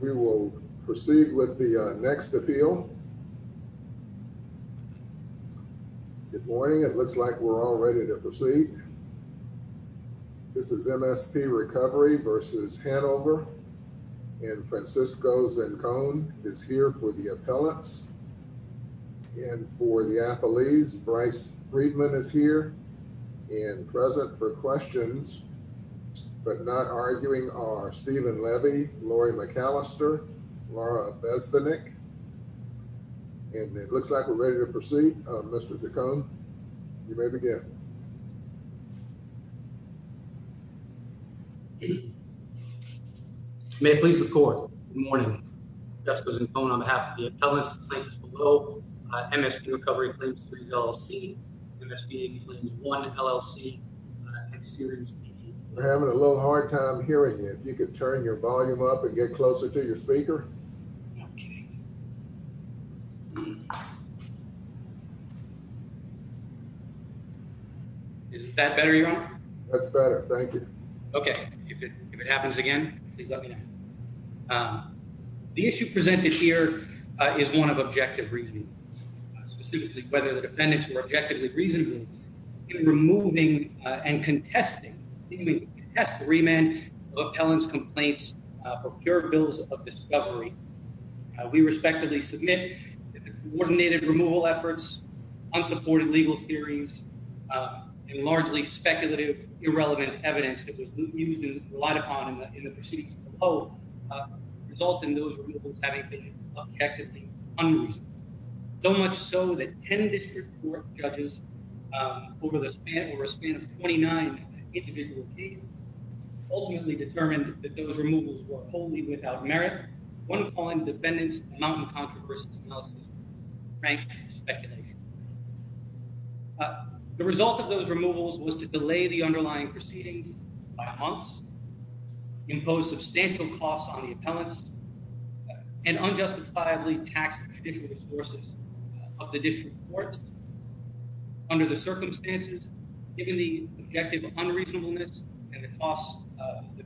We will proceed with the next appeal. Good morning. It looks like we're all ready to proceed. This is MSP Recovery v. Hanover and Francisco Zancone is here for the appellants and for the appellees. Bryce Friedman is here and present for questions, but not arguing are Stephen Levy, Lori McAllister, Laura Besbenik. And it looks like we're ready to proceed. Mr. Zancone, you may begin. May it please the court. Good morning. Jessica Zancone on behalf of the appellants and plaintiffs below. MSP Recovery Claims Series LLC, MSP AP Claims 1 LLC and Series B. We're having a little hard time hearing you. If you could turn your volume up and get closer to your speaker. Okay. Is that better, Your Honor? That's better. Thank you. Okay. If it happens again, please let me know. The issue presented here is one of objective reasoning, specifically whether the defendants were objectively reasonable in removing and contesting, remand of appellants' complaints for pure bills of discovery. We respectively submit that the coordinated removal efforts, unsupported legal theories, and largely speculative, irrelevant evidence that was used and relied upon in the proceedings of the poll result in those removals having been objectively unreasonable. So much so that 10 district court judges over the span, over a span of 29 individual cases, ultimately determined that those removals were wholly without merit, one calling the defendants' mountain controversy analysis frank speculation. The result of those removals was to delay the underlying proceedings by months, impose substantial costs on the appellants, and unjustifiably tax the judicial resources of the district courts. Under the circumstances, given the objective unreasonableness and the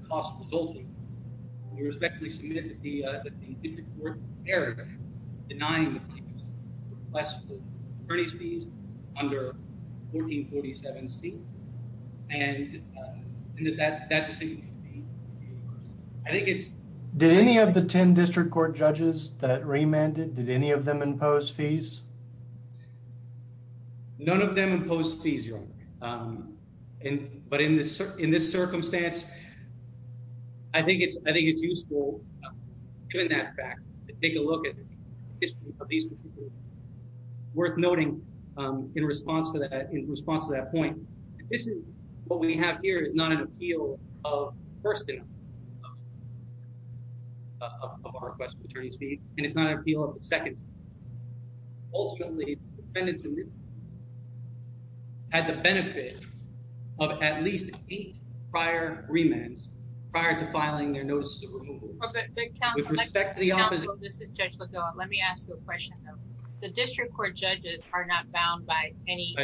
cost resulting, we respectively submit that the district court erred, denying the plaintiffs' request for attorney's fees under 1447C, and that decision should be made. I think it's... Did any of the 10 district court judges that remanded, did any of them impose fees? None of them imposed fees, Your Honor. But in this circumstance, I think it's useful, given that fact, to take a look at the history of these particular cases. Ultimately, the defendants had the benefit of at least eight prior remands prior to filing their notices of removal. With respect to the opposite... This is Judge Lagoa. Let me ask you a question, though. The district court judges are not bound by any...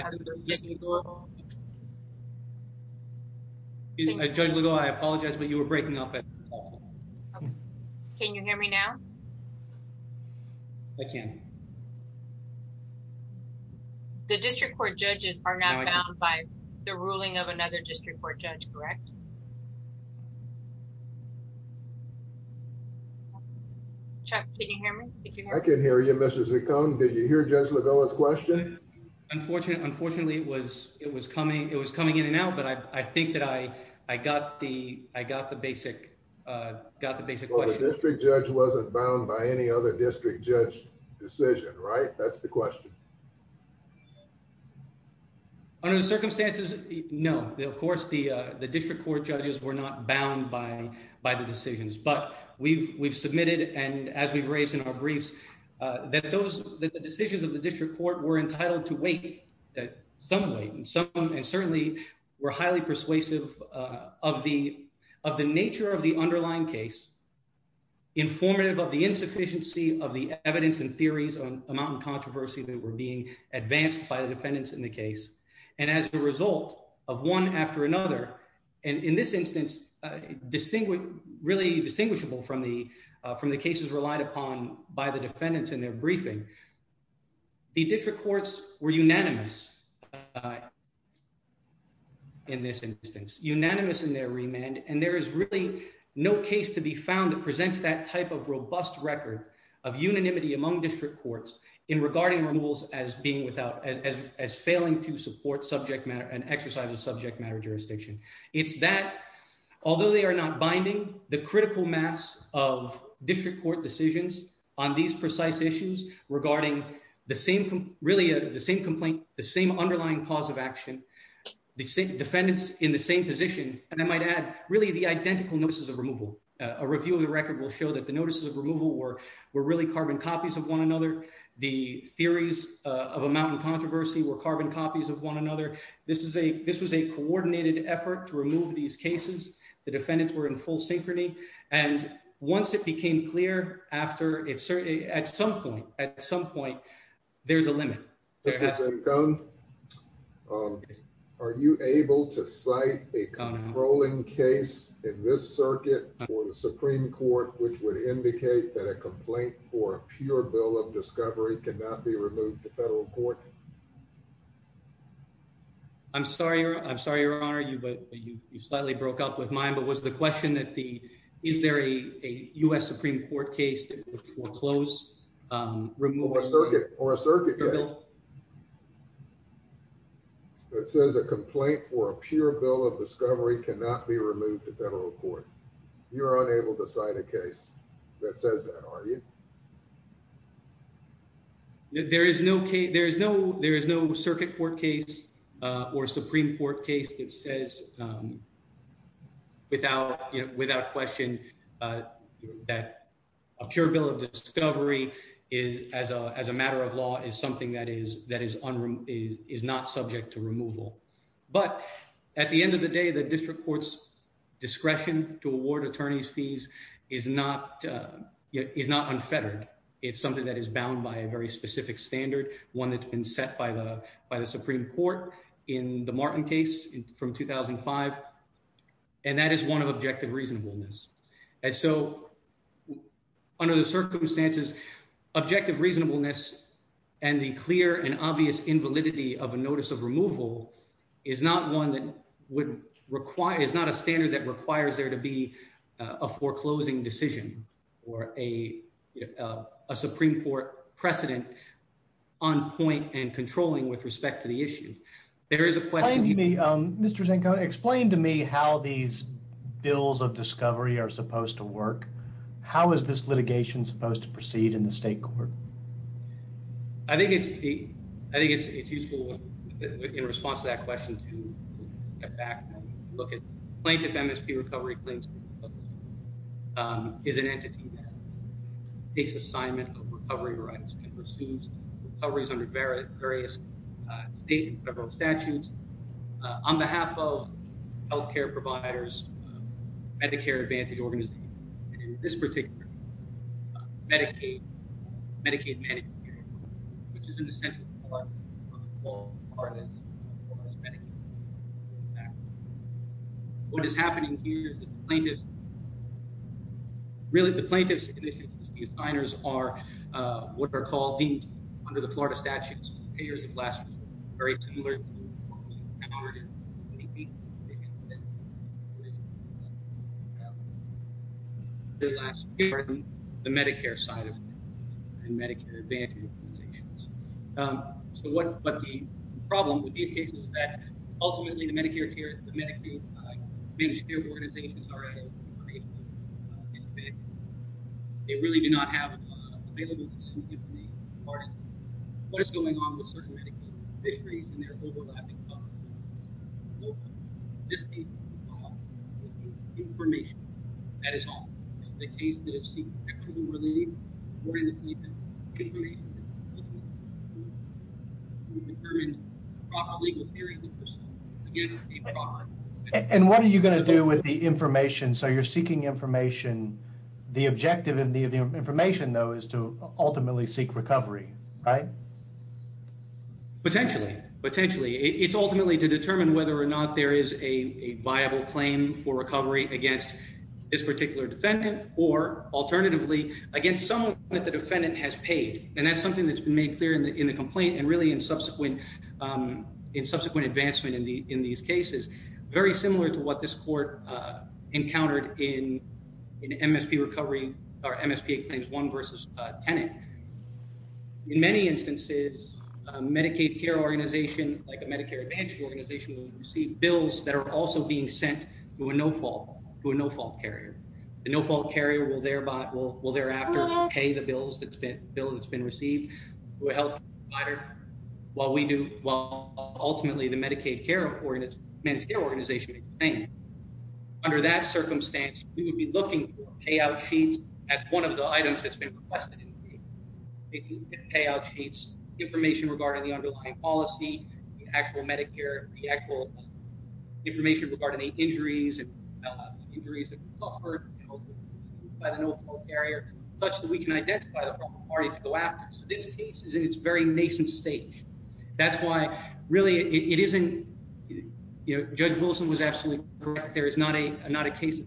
Judge Lagoa, I apologize, but you were breaking up. Can you hear me now? I can. The district court judges are not bound by the ruling of another district court judge, correct? Chuck, can you hear me? I can hear you, Mr. Zacon. Did you hear Judge Lagoa's question? Unfortunately, it was coming in and out, but I think that I got the basic question. The district judge wasn't bound by any other district judge's decision, right? That's the question. Under the circumstances, no. Of course, the district court judges were not bound by the decisions. But we've submitted, and as we've raised in our briefs, that the decisions of the district court were entitled to wait. And certainly were highly persuasive of the nature of the underlying case, informative of the insufficiency of the evidence and theories on amount and controversy that were being advanced by the defendants in the case. And as a result of one after another, and in this instance, really distinguishable from the cases relied upon by the defendants in their briefing, the district courts were unanimous in this instance, unanimous in their remand. And there is really no case to be found that presents that type of robust record of unanimity among district courts in regarding removals as being without, as failing to support subject matter, an exercise of subject matter jurisdiction. It's that, although they are not binding, the critical mass of district court decisions on these precise issues regarding the same complaint, the same underlying cause of action, defendants in the same position. And I might add, really the identical notices of removal. A review of the record will show that the notices of removal were really carbon copies of one another. The theories of amount and controversy were carbon copies of one another. This is a, this was a coordinated effort to remove these cases, the defendants were in full synchrony. And once it became clear after it certainly at some point, at some point, there's a limit. Are you able to cite a controlling case in this circuit or the Supreme Court, which would indicate that a complaint for pure bill of discovery cannot be removed to federal court. I'm sorry, I'm sorry, Your Honor, you but you slightly broke up with mine, but was the question that the, is there a US Supreme Court case that foreclosed removal circuit or a circuit. That says a complaint for a pure bill of discovery cannot be removed to federal court. You're unable to cite a case that says that are you. There is no case, there is no, there is no circuit court case or Supreme Court case that says without, without question that a pure bill of discovery is as a, as a matter of law is something that is, that is, is not subject to removal. But at the end of the day, the district courts discretion to award attorneys fees is not is not unfettered. It's something that is bound by a very specific standard, one that's been set by the by the Supreme Court in the Martin case from 2005. And that is one of objective reasonableness. And so, under the circumstances, objective reasonableness, and the clear and obvious invalidity of a notice of removal is not one that would require is not a standard that requires there to be a foreclosing decision, or a Supreme Court precedent on point and controlling with respect to the issue. There is a question. Mr. Zanko, explain to me how these bills of discovery are supposed to work. How is this litigation supposed to proceed in the state court? I think it's, I think it's, it's useful in response to that question to get back and look at plaintiff MSP recovery claims is an entity that takes assignment of recovery rights and pursues recoveries under various various state and federal statutes. On behalf of health care providers, Medicare Advantage organization, this particular Medicaid, Medicaid, which is an essential. What is happening here is the plaintiff. Really, the plaintiff's initiatives, the assigners are what are called deemed under the Florida statutes. Very similar. The last the Medicare side of. And Medicare advantage. So, what, what the problem with these cases is that ultimately the Medicare care is the Medicaid. Organizations are. They really do not have available. What's going on with certain. And they're overlapping. Information. That is all. And what are you going to do with the information? So you're seeking information. The objective in the information, though, is to ultimately seek recovery. Right. Potentially, potentially, it's ultimately to determine whether or not there is a viable claim for recovery against this particular defendant. Alternatively, against someone that the defendant has paid, and that's something that's been made clear in the, in the complaint and really in subsequent in subsequent advancement in the, in these cases. Very similar to what this court encountered in an MSP recovery or MSP claims one versus tenant. In many instances, Medicaid care organization, like a Medicare advantage organization will receive bills that are also being sent to a no fault to a no fault carrier. The no fault carrier will thereby will will thereafter pay the bills that's been bill that's been received. While we do well, ultimately, the Medicaid care, or, and it's an organization. Under that circumstance, we would be looking for payout sheets as one of the items that's been requested. Payout sheets information regarding the underlying policy, actual Medicare, the actual information regarding the injuries. By the no fault carrier, such that we can identify the party to go after. So, this case is in its very nascent stage. That's why really it isn't judge Wilson was absolutely correct. There is not a, not a case of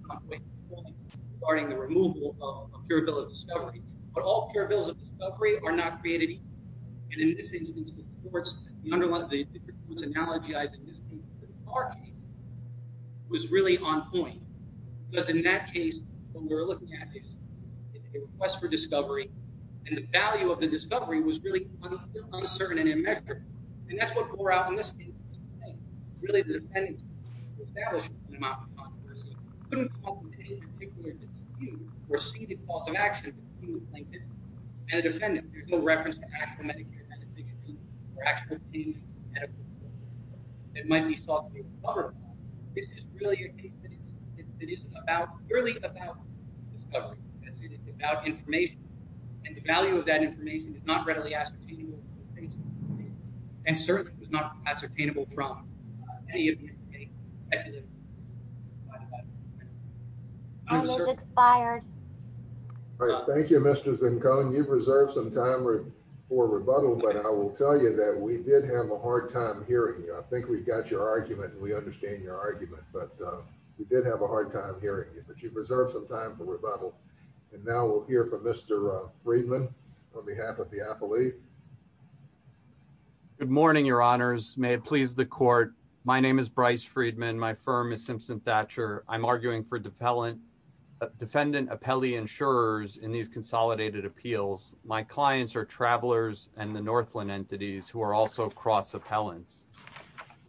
starting the removal of pure bill of discovery, but all pure bills of discovery are not created. And in this instance, the courts, the underlying analogy, I think, was really on point. Because in that case, what we're looking at is a request for discovery. And the value of the discovery was really uncertain and immeasurable. And that's what bore out in this case. Really, the dependence established. You receive the cause of action. And a defendant, there's no reference to actual Medicare. It might be. This is really a case. It is about really about. It's about information. And the value of that information is not readily ascertainable. And certainly, it was not ascertainable from. I'm expired. Thank you. Mr. Zinco. You've reserved some time for rebuttal, but I will tell you that we did have a hard time hearing. I think we've got your argument. We understand your argument, but we did have a hard time hearing it, but you've reserved some time for rebuttal. And now we'll hear from Mr. Friedman on behalf of the police. Good morning, your honors. May it please the court. My name is Bryce Friedman. My firm is Simpson Thatcher. I'm arguing for defendant appellee insurers in these consolidated appeals. My clients are travelers and the Northland entities who are also cross appellants.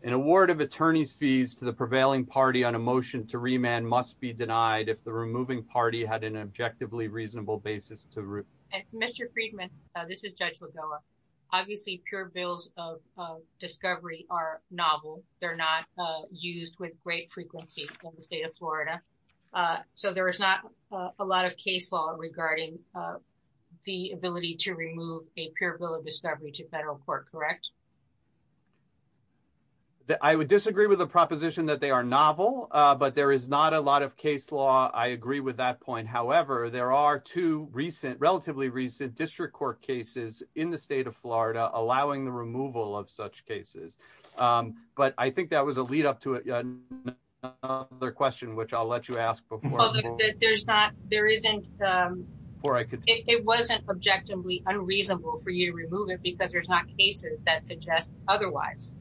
An award of attorney's fees to the prevailing party on a motion to remand must be denied if the removing party had an objectively reasonable basis to. Mr. Friedman, this is Judge Lagoa. Obviously, pure bills of discovery are novel. They're not used with great frequency in the state of Florida. So there is not a lot of case law regarding the ability to remove a pure bill of discovery to federal court, correct? I would disagree with the proposition that they are novel, but there is not a lot of case law. I agree with that point. However, there are two recent, relatively recent district court cases in the state of Florida allowing the removal of such cases. But I think that was a lead up to another question, which I'll let you ask before. It wasn't objectively unreasonable for you to remove it because there's not cases that suggest otherwise.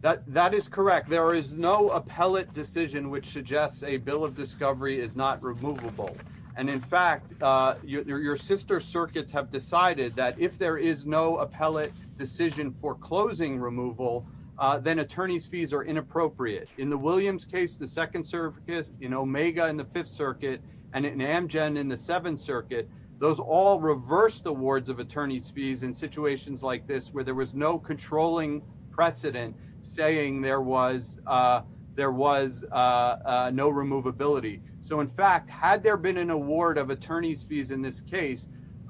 That is correct. There is no appellate decision which suggests a bill of discovery is not removable. And in fact, your sister circuits have decided that if there is no appellate decision for closing removal, then attorney's fees are inappropriate. In the Williams case, the second circuit, you know, Omega in the Fifth Circuit, and in Amgen in the Seventh Circuit, those all reversed awards of attorney's fees in situations like this, where there was no controlling precedent saying there was no removability. So in fact, had there been an award of attorney's fees in this case,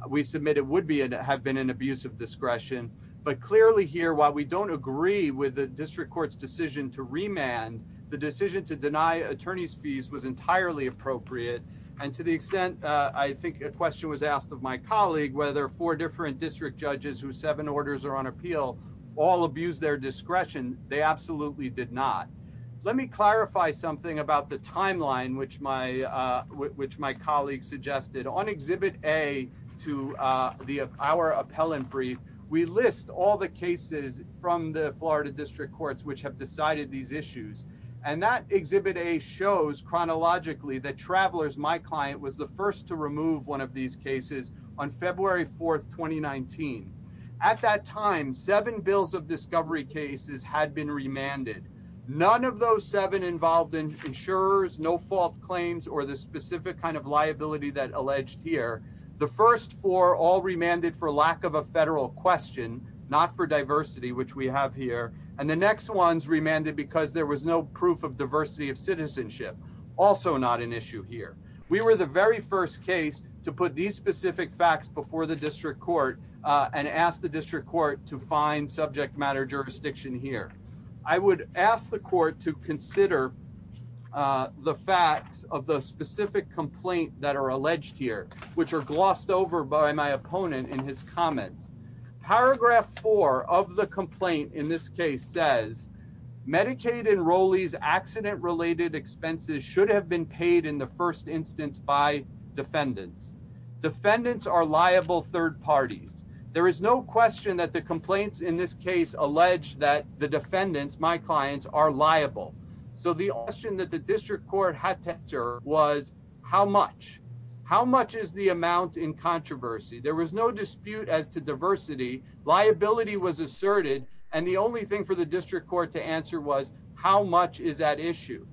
we submit it would have been an abuse of discretion. But clearly here, while we don't agree with the district court's decision to remand, the decision to deny attorney's fees was entirely appropriate. And to the extent I think a question was asked of my colleague, whether four different district judges who seven orders are on appeal all abuse their discretion, they absolutely did not. Let me clarify something about the timeline, which my which my colleagues suggested on Exhibit A to the our appellant brief. We list all the cases from the Florida district courts which have decided these issues. And that Exhibit A shows chronologically that Travelers, my client, was the first to remove one of these cases on February 4th, 2019. At that time, seven bills of discovery cases had been remanded. None of those seven involved in insurers, no fault claims, or the specific kind of liability that alleged here. The first four all remanded for lack of a federal question, not for diversity, which we have here. And the next ones remanded because there was no proof of diversity of citizenship, also not an issue here. We were the very first case to put these specific facts before the district court and ask the district court to find subject matter jurisdiction here. I would ask the court to consider the facts of the specific complaint that are alleged here, which are glossed over by my opponent in his comments. Paragraph four of the complaint in this case says, Medicaid enrollees' accident-related expenses should have been paid in the first instance by defendants. Defendants are liable third parties. There is no question that the complaints in this case allege that the defendants, my clients, are liable. So the question that the district court had to answer was, how much? How much is the amount in controversy? There was no dispute as to diversity. Liability was asserted. And the only thing for the district court to answer was, how much is at issue?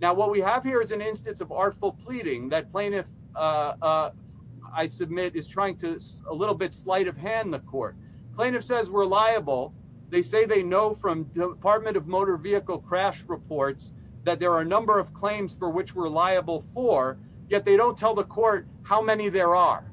Now, what we have here is an instance of artful pleading that plaintiff, I submit, is trying to a little bit slight of hand the court. Plaintiff says we're liable. They say they know from Department of Motor Vehicle crash reports that there are a number of claims for which we're liable for. Yet they don't tell the court how many there are.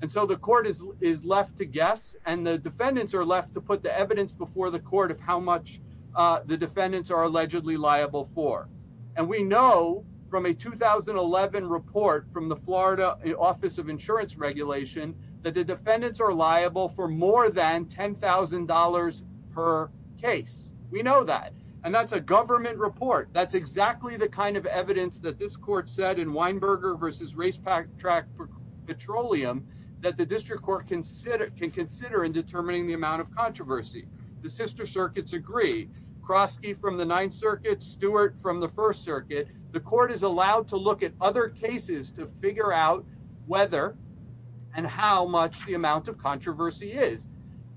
The court is left to guess, and the defendants are left to put the evidence before the court of how much the defendants are allegedly liable for. And we know from a 2011 report from the Florida Office of Insurance Regulation that the defendants are liable for more than $10,000 per case. We know that. And that's a government report. That's exactly the kind of evidence that this court said in Weinberger v. Race Track Petroleum that the district court can consider in determining the amount of controversy. The sister circuits agree. Krosky from the Ninth Circuit, Stewart from the First Circuit. The court is allowed to look at other cases to figure out whether and how much the amount of controversy is.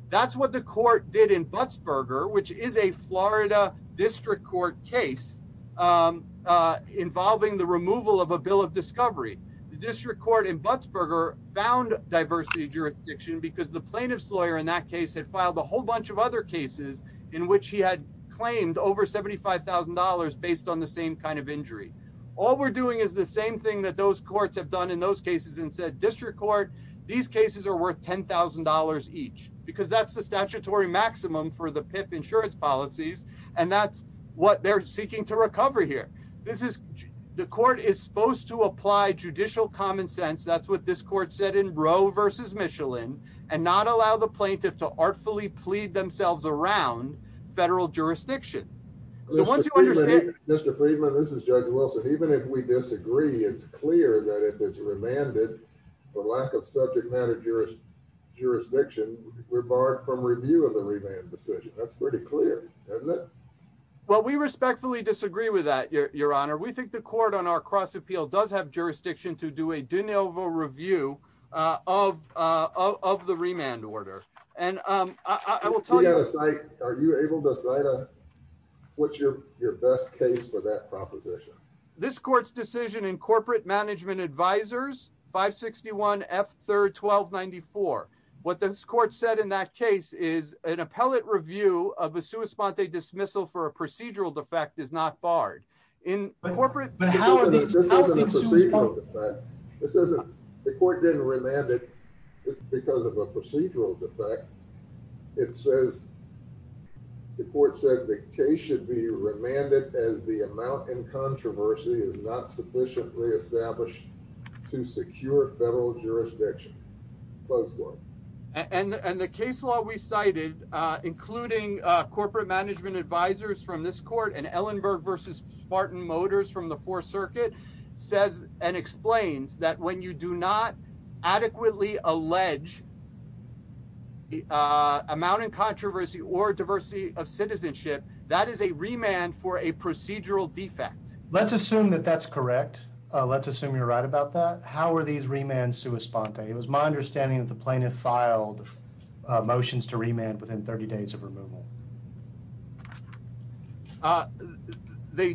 That's what the court did in Butzberger, which is a Florida district court case involving the removal of a bill of discovery. The district court in Butzberger found diversity jurisdiction because the plaintiff's lawyer in that case had filed a whole bunch of other cases in which he had claimed over $75,000 based on the same kind of injury. All we're doing is the same thing that those courts have done in those cases and said, district court, these cases are worth $10,000 each. Because that's the statutory maximum for the PIP insurance policies. And that's what they're seeking to recover here. This is the court is supposed to apply judicial common sense. That's what this court said in Roe v. Michelin and not allow the plaintiff to artfully plead themselves around federal jurisdiction. Mr. Friedman, this is Judge Wilson. Even if we disagree, it's clear that if it's remanded for lack of subject matter jurisdiction, we're barred from reviewing the remand decision. That's pretty clear, isn't it? Well, we respectfully disagree with that, Your Honor. We think the court on our cross appeal does have jurisdiction to do a de novo review of the remand order. Are you able to cite what's your best case for that proposition? This court's decision in Corporate Management Advisors 561 F. 3rd 1294. What this court said in that case is an appellate review of a sua sponte dismissal for a procedural defect is not barred. This isn't a procedural defect. The court didn't remand it because of a procedural defect. The court said the case should be remanded as the amount in controversy is not sufficiently established to secure federal jurisdiction. And the case law we cited, including Corporate Management Advisors from this court and Ellenberg versus Spartan Motors from the Fourth Circuit, says and explains that when you do not adequately allege amount in controversy or diversity of citizenship, that is a remand for a procedural defect. Let's assume that that's correct. Let's assume you're right about that. How are these remands sua sponte? It was my understanding that the plaintiff filed motions to remand within 30 days of removal. They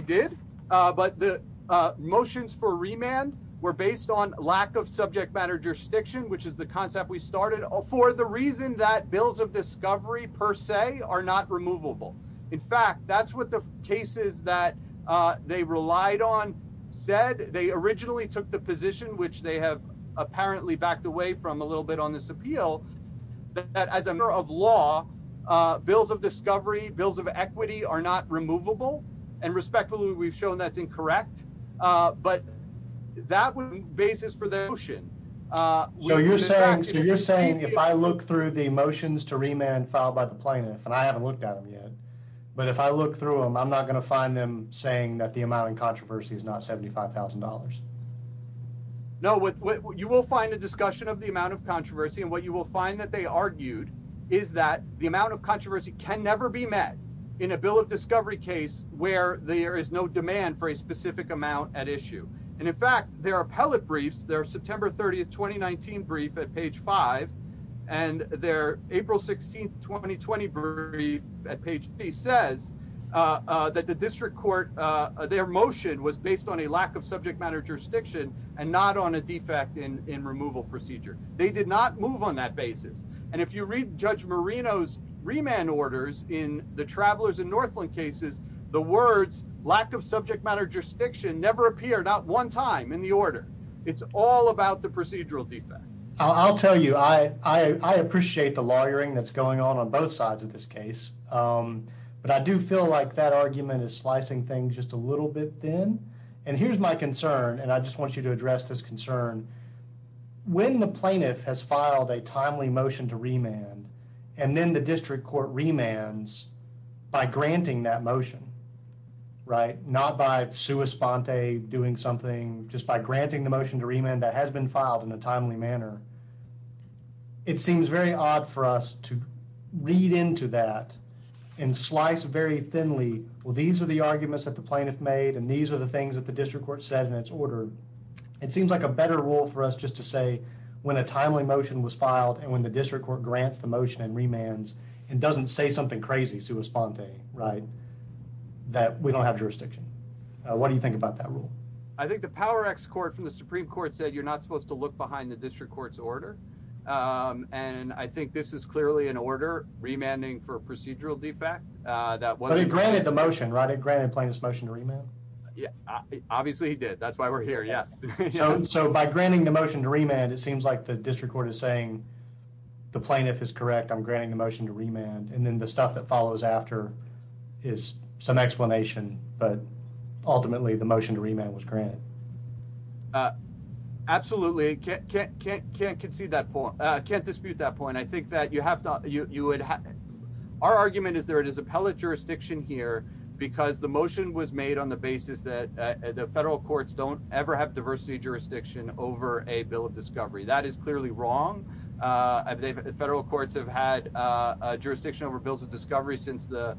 did, but the motions for remand were based on lack of subject matter jurisdiction, which is the concept we started for the reason that bills of discovery per se are not removable. In fact, that's what the cases that they relied on said. They originally took the position, which they have apparently backed away from a little bit on this appeal, that as a matter of law, bills of discovery, bills of equity are not removable. And respectfully, we've shown that's incorrect. But that basis for the motion. You're saying you're saying if I look through the motions to remand filed by the plaintiff and I haven't looked at him yet, but if I look through them, I'm not going to find them saying that the amount of controversy is not $75,000. You will find a discussion of the amount of controversy and what you will find that they argued is that the amount of controversy can never be met in a bill of discovery case where there is no demand for a specific amount at issue. And in fact, their appellate briefs, their September 30th 2019 brief at page five and their April 16th 2020 brief at page three says that the district court. Their motion was based on a lack of subject matter jurisdiction and not on a defect in removal procedure. They did not move on that basis. And if you read Judge Marino's remand orders in the travelers in Northland cases, the words lack of subject matter jurisdiction never appeared out one time in the order. It's all about the procedural defect. I'll tell you, I appreciate the lawyering that's going on on both sides of this case, but I do feel like that argument is slicing things just a little bit thin. And here's my concern, and I just want you to address this concern. When the plaintiff has filed a timely motion to remand and then the district court remands by granting that motion, right? Not by sua sponte doing something, just by granting the motion to remand that has been filed in a timely manner. It seems very odd for us to read into that and slice very thinly. Well, these are the arguments that the plaintiff made, and these are the things that the district court said in its order. It seems like a better rule for us just to say when a timely motion was filed and when the district court grants the motion and remands and doesn't say something crazy sua sponte, right? That we don't have jurisdiction. What do you think about that rule? I think the power ex-court from the Supreme Court said you're not supposed to look behind the district court's order. And I think this is clearly an order remanding for a procedural defect. But it granted the motion, right? It granted the plaintiff's motion to remand? Obviously, it did. That's why we're here, yes. So by granting the motion to remand, it seems like the district court is saying the plaintiff is correct, I'm granting the motion to remand. And then the stuff that follows after is some explanation, but ultimately the motion to remand was granted. Absolutely. Can't dispute that point. Our argument is there is appellate jurisdiction here because the motion was made on the basis that the federal courts don't ever have diversity jurisdiction over a bill of discovery. That is clearly wrong. Federal courts have had jurisdiction over bills of discovery since the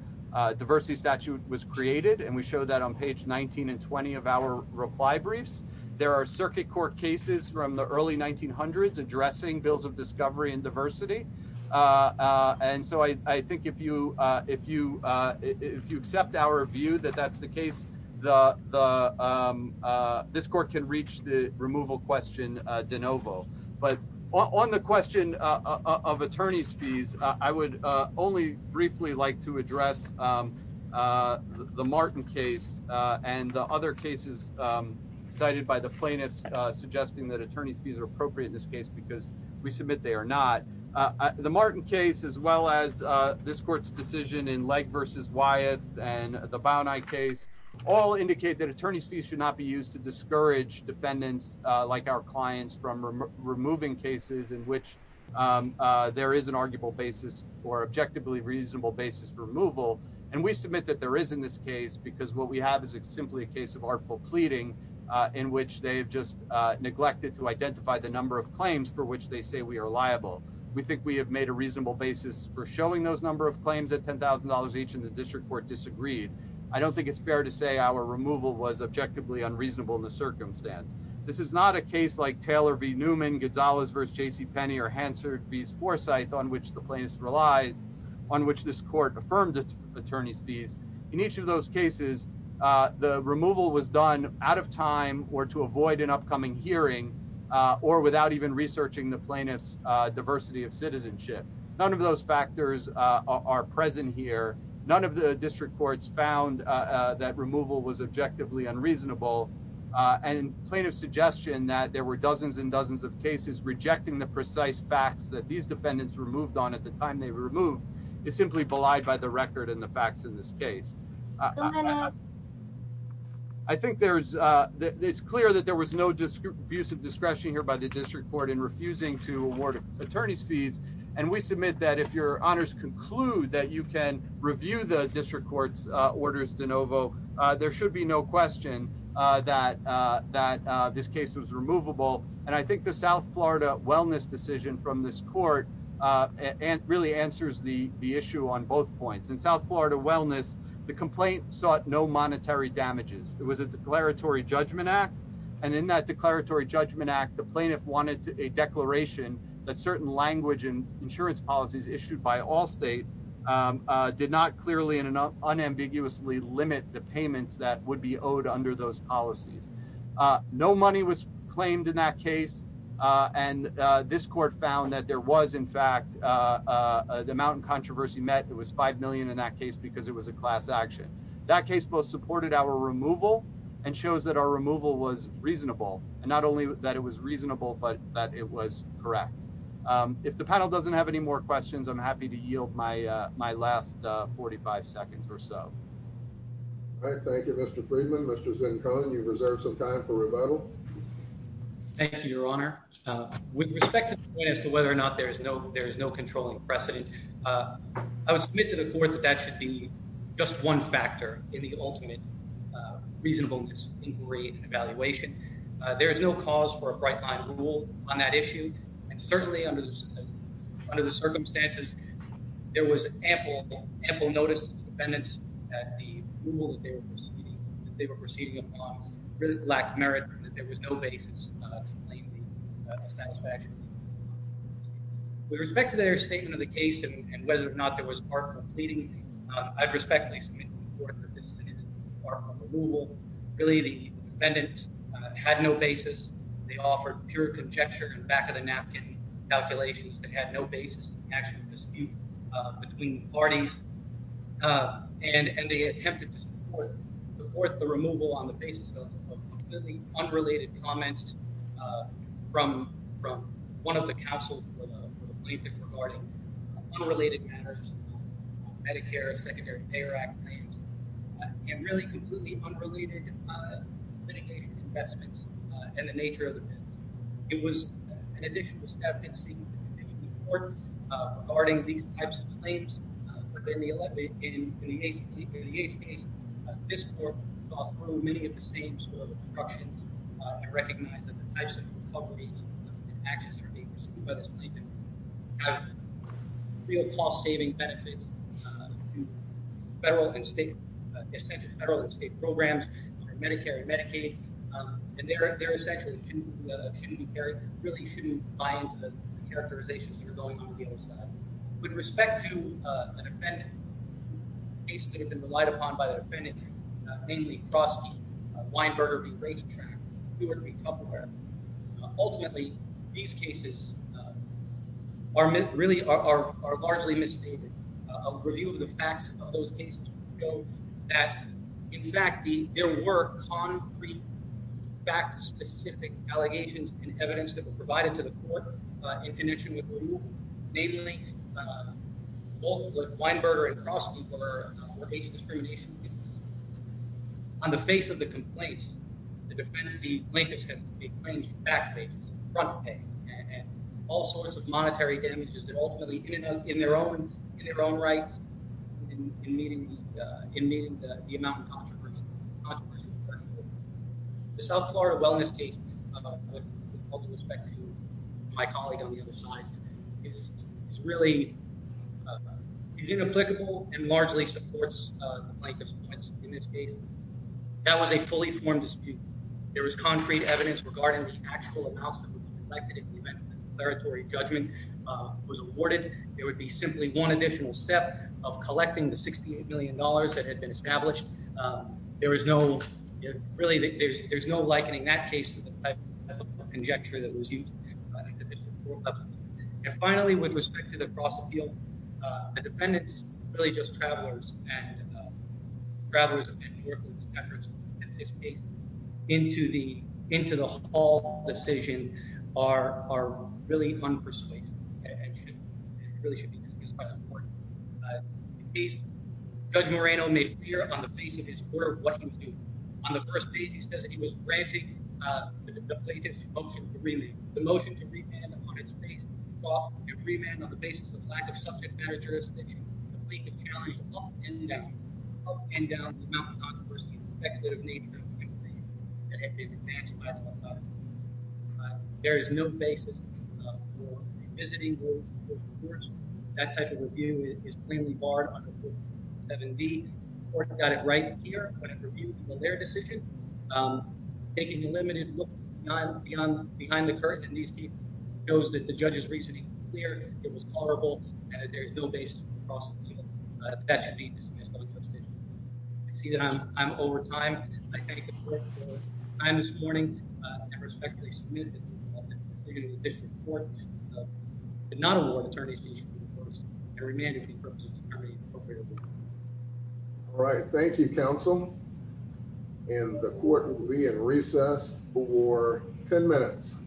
diversity statute was created. And we show that on page 19 and 20 of our reply briefs. There are circuit court cases from the early 1900s addressing bills of discovery and diversity. And so I think if you accept our view that that's the case, this court can reach the removal question de novo. But on the question of attorney's fees, I would only briefly like to address the Martin case and the other cases cited by the plaintiffs suggesting that attorney's fees are appropriate in this case because we submit they are not. The Martin case as well as this court's decision in Legg v. Wyeth and the Bowneye case all indicate that attorney's fees should not be used to discourage defendants like our clients from removing cases in which there is an arguable basis or objectively reasonable basis for removal. And we submit that there is in this case because what we have is simply a case of article pleading in which they've just neglected to identify the number of claims for which they say we are liable. And we have made a reasonable basis for showing those number of claims at $10,000 each in the district court disagreed. I don't think it's fair to say our removal was objectively unreasonable in the circumstance. This is not a case like Taylor v. Newman, Gonzalez v. JCPenney, or Hansard v. Forsythe on which the plaintiffs relied, on which this court affirmed attorney's fees. In each of those cases, the removal was done out of time or to avoid an upcoming hearing or without even researching the plaintiff's diversity of citizenship. None of those factors are present here. None of the district courts found that removal was objectively unreasonable. And plaintiff's suggestion that there were dozens and dozens of cases rejecting the precise facts that these defendants removed on at the time they removed is simply belied by the record and the facts in this case. I think it's clear that there was no abuse of discretion here by the district court in refusing to award attorney's fees. And we submit that if your honors conclude that you can review the district court's orders de novo, there should be no question that this case was removable. And I think the South Florida Wellness decision from this court really answers the issue on both points. In South Florida Wellness, the complaint sought no monetary damages. It was a declaratory judgment act. And in that declaratory judgment act, the plaintiff wanted a declaration that certain language and insurance policies issued by all state did not clearly and unambiguously limit the payments that would be owed under those policies. No money was claimed in that case. And this court found that there was, in fact, the mountain controversy met. It was $5 million in that case because it was a class action. That case both supported our removal and shows that our removal was reasonable. And not only that it was reasonable, but that it was correct. If the panel doesn't have any more questions, I'm happy to yield my last 45 seconds or so. Thank you, Mr. Friedman. Mr. Zincon, you reserve some time for rebuttal. Thank you, Your Honor. With respect to the point as to whether or not there is no controlling precedent, I would submit to the court that that should be just one factor in the ultimate reasonableness inquiry and evaluation. There is no cause for a bright line rule on that issue. And certainly under the circumstances, there was ample notice to defendants that the rule that they were proceeding upon really lacked merit and that there was no basis to claim the satisfaction. With respect to their statement of the case and whether or not there was part completing, I'd respectfully submit to the court that this is part of removal. Really, the defendants had no basis. They offered pure conjecture and back of the napkin calculations that had no basis in actual dispute between parties. And they attempted to support the removal on the basis of completely unrelated comments from one of the counsels for the plaintiff regarding unrelated matters of Medicare, Secondary Payor Act claims, and really completely unrelated mitigated investments and the nature of the business. It was an additional step in seeking the conviction of the court regarding these types of claims, but then in the Ace case, this court saw through many of the same sort of obstructions and recognized that the types of recoveries and actions that are being pursued by this plaintiff have real cost-saving benefits to federal and state programs under Medicare and Medicaid. And they're essentially shouldn't be carried, really shouldn't buy into the characterizations that are going on with the other side. With respect to an offendant, cases that have been relied upon by the defendant, namely Crosky, Weinberger v. Racetrack, Brewer v. Tupperware, ultimately these cases are really are largely misstated. In fact, there were concrete, fact-specific allegations and evidence that were provided to the court in connection with removal, namely both Weinberger and Crosky were age-discrimination cases. On the face of the complaints, the plaintiff has made claims for back pay, front pay, and all sorts of monetary damages that ultimately, in their own right, in meeting the amount of controversy. The South Florida Wellness case, with all due respect to my colleague on the other side, is really, is inapplicable and largely supports the plaintiff's points in this case. That was a fully formed dispute. There was concrete evidence regarding the actual amounts that were collected in the event that a declaratory judgment was awarded. There would be simply one additional step of collecting the $68 million that had been established. There was no, really, there's no likening that case to the type of conjecture that was used. And finally, with respect to the cross-appeal, the defendants, really just travelers and travelers in New York, in this case, into the hall decision are really unpersuasive and really should be excused by the court. In this case, Judge Moreno made clear on the face of his court what he was doing. On the first page, he says that he was granting the plaintiff's motion to remand. The motion to remand, upon its face, sought to remand on the basis of lack of subject matter jurisdiction, complete the challenge up and down, up and down the amount of controversy and speculative nature of the complaint that had been advanced by the court. There is no basis for revisiting those reports. That type of review is plainly barred under Procedure 7B. The court got it right here when it reviewed their decision. Taking a limited look behind the curtain in these cases shows that the judge's reasoning was clear, it was tolerable, and that there is no basis for cross-appeal. That should be dismissed on this decision. I see that I'm over time, and I thank the court for its time this morning and respectfully submit that the defendant, in addition to the court, did not award attorneys to each of the reports and remanded each of the reports to each attorney appropriately. All right. Thank you, counsel. And the court will be in recess for 10 minutes.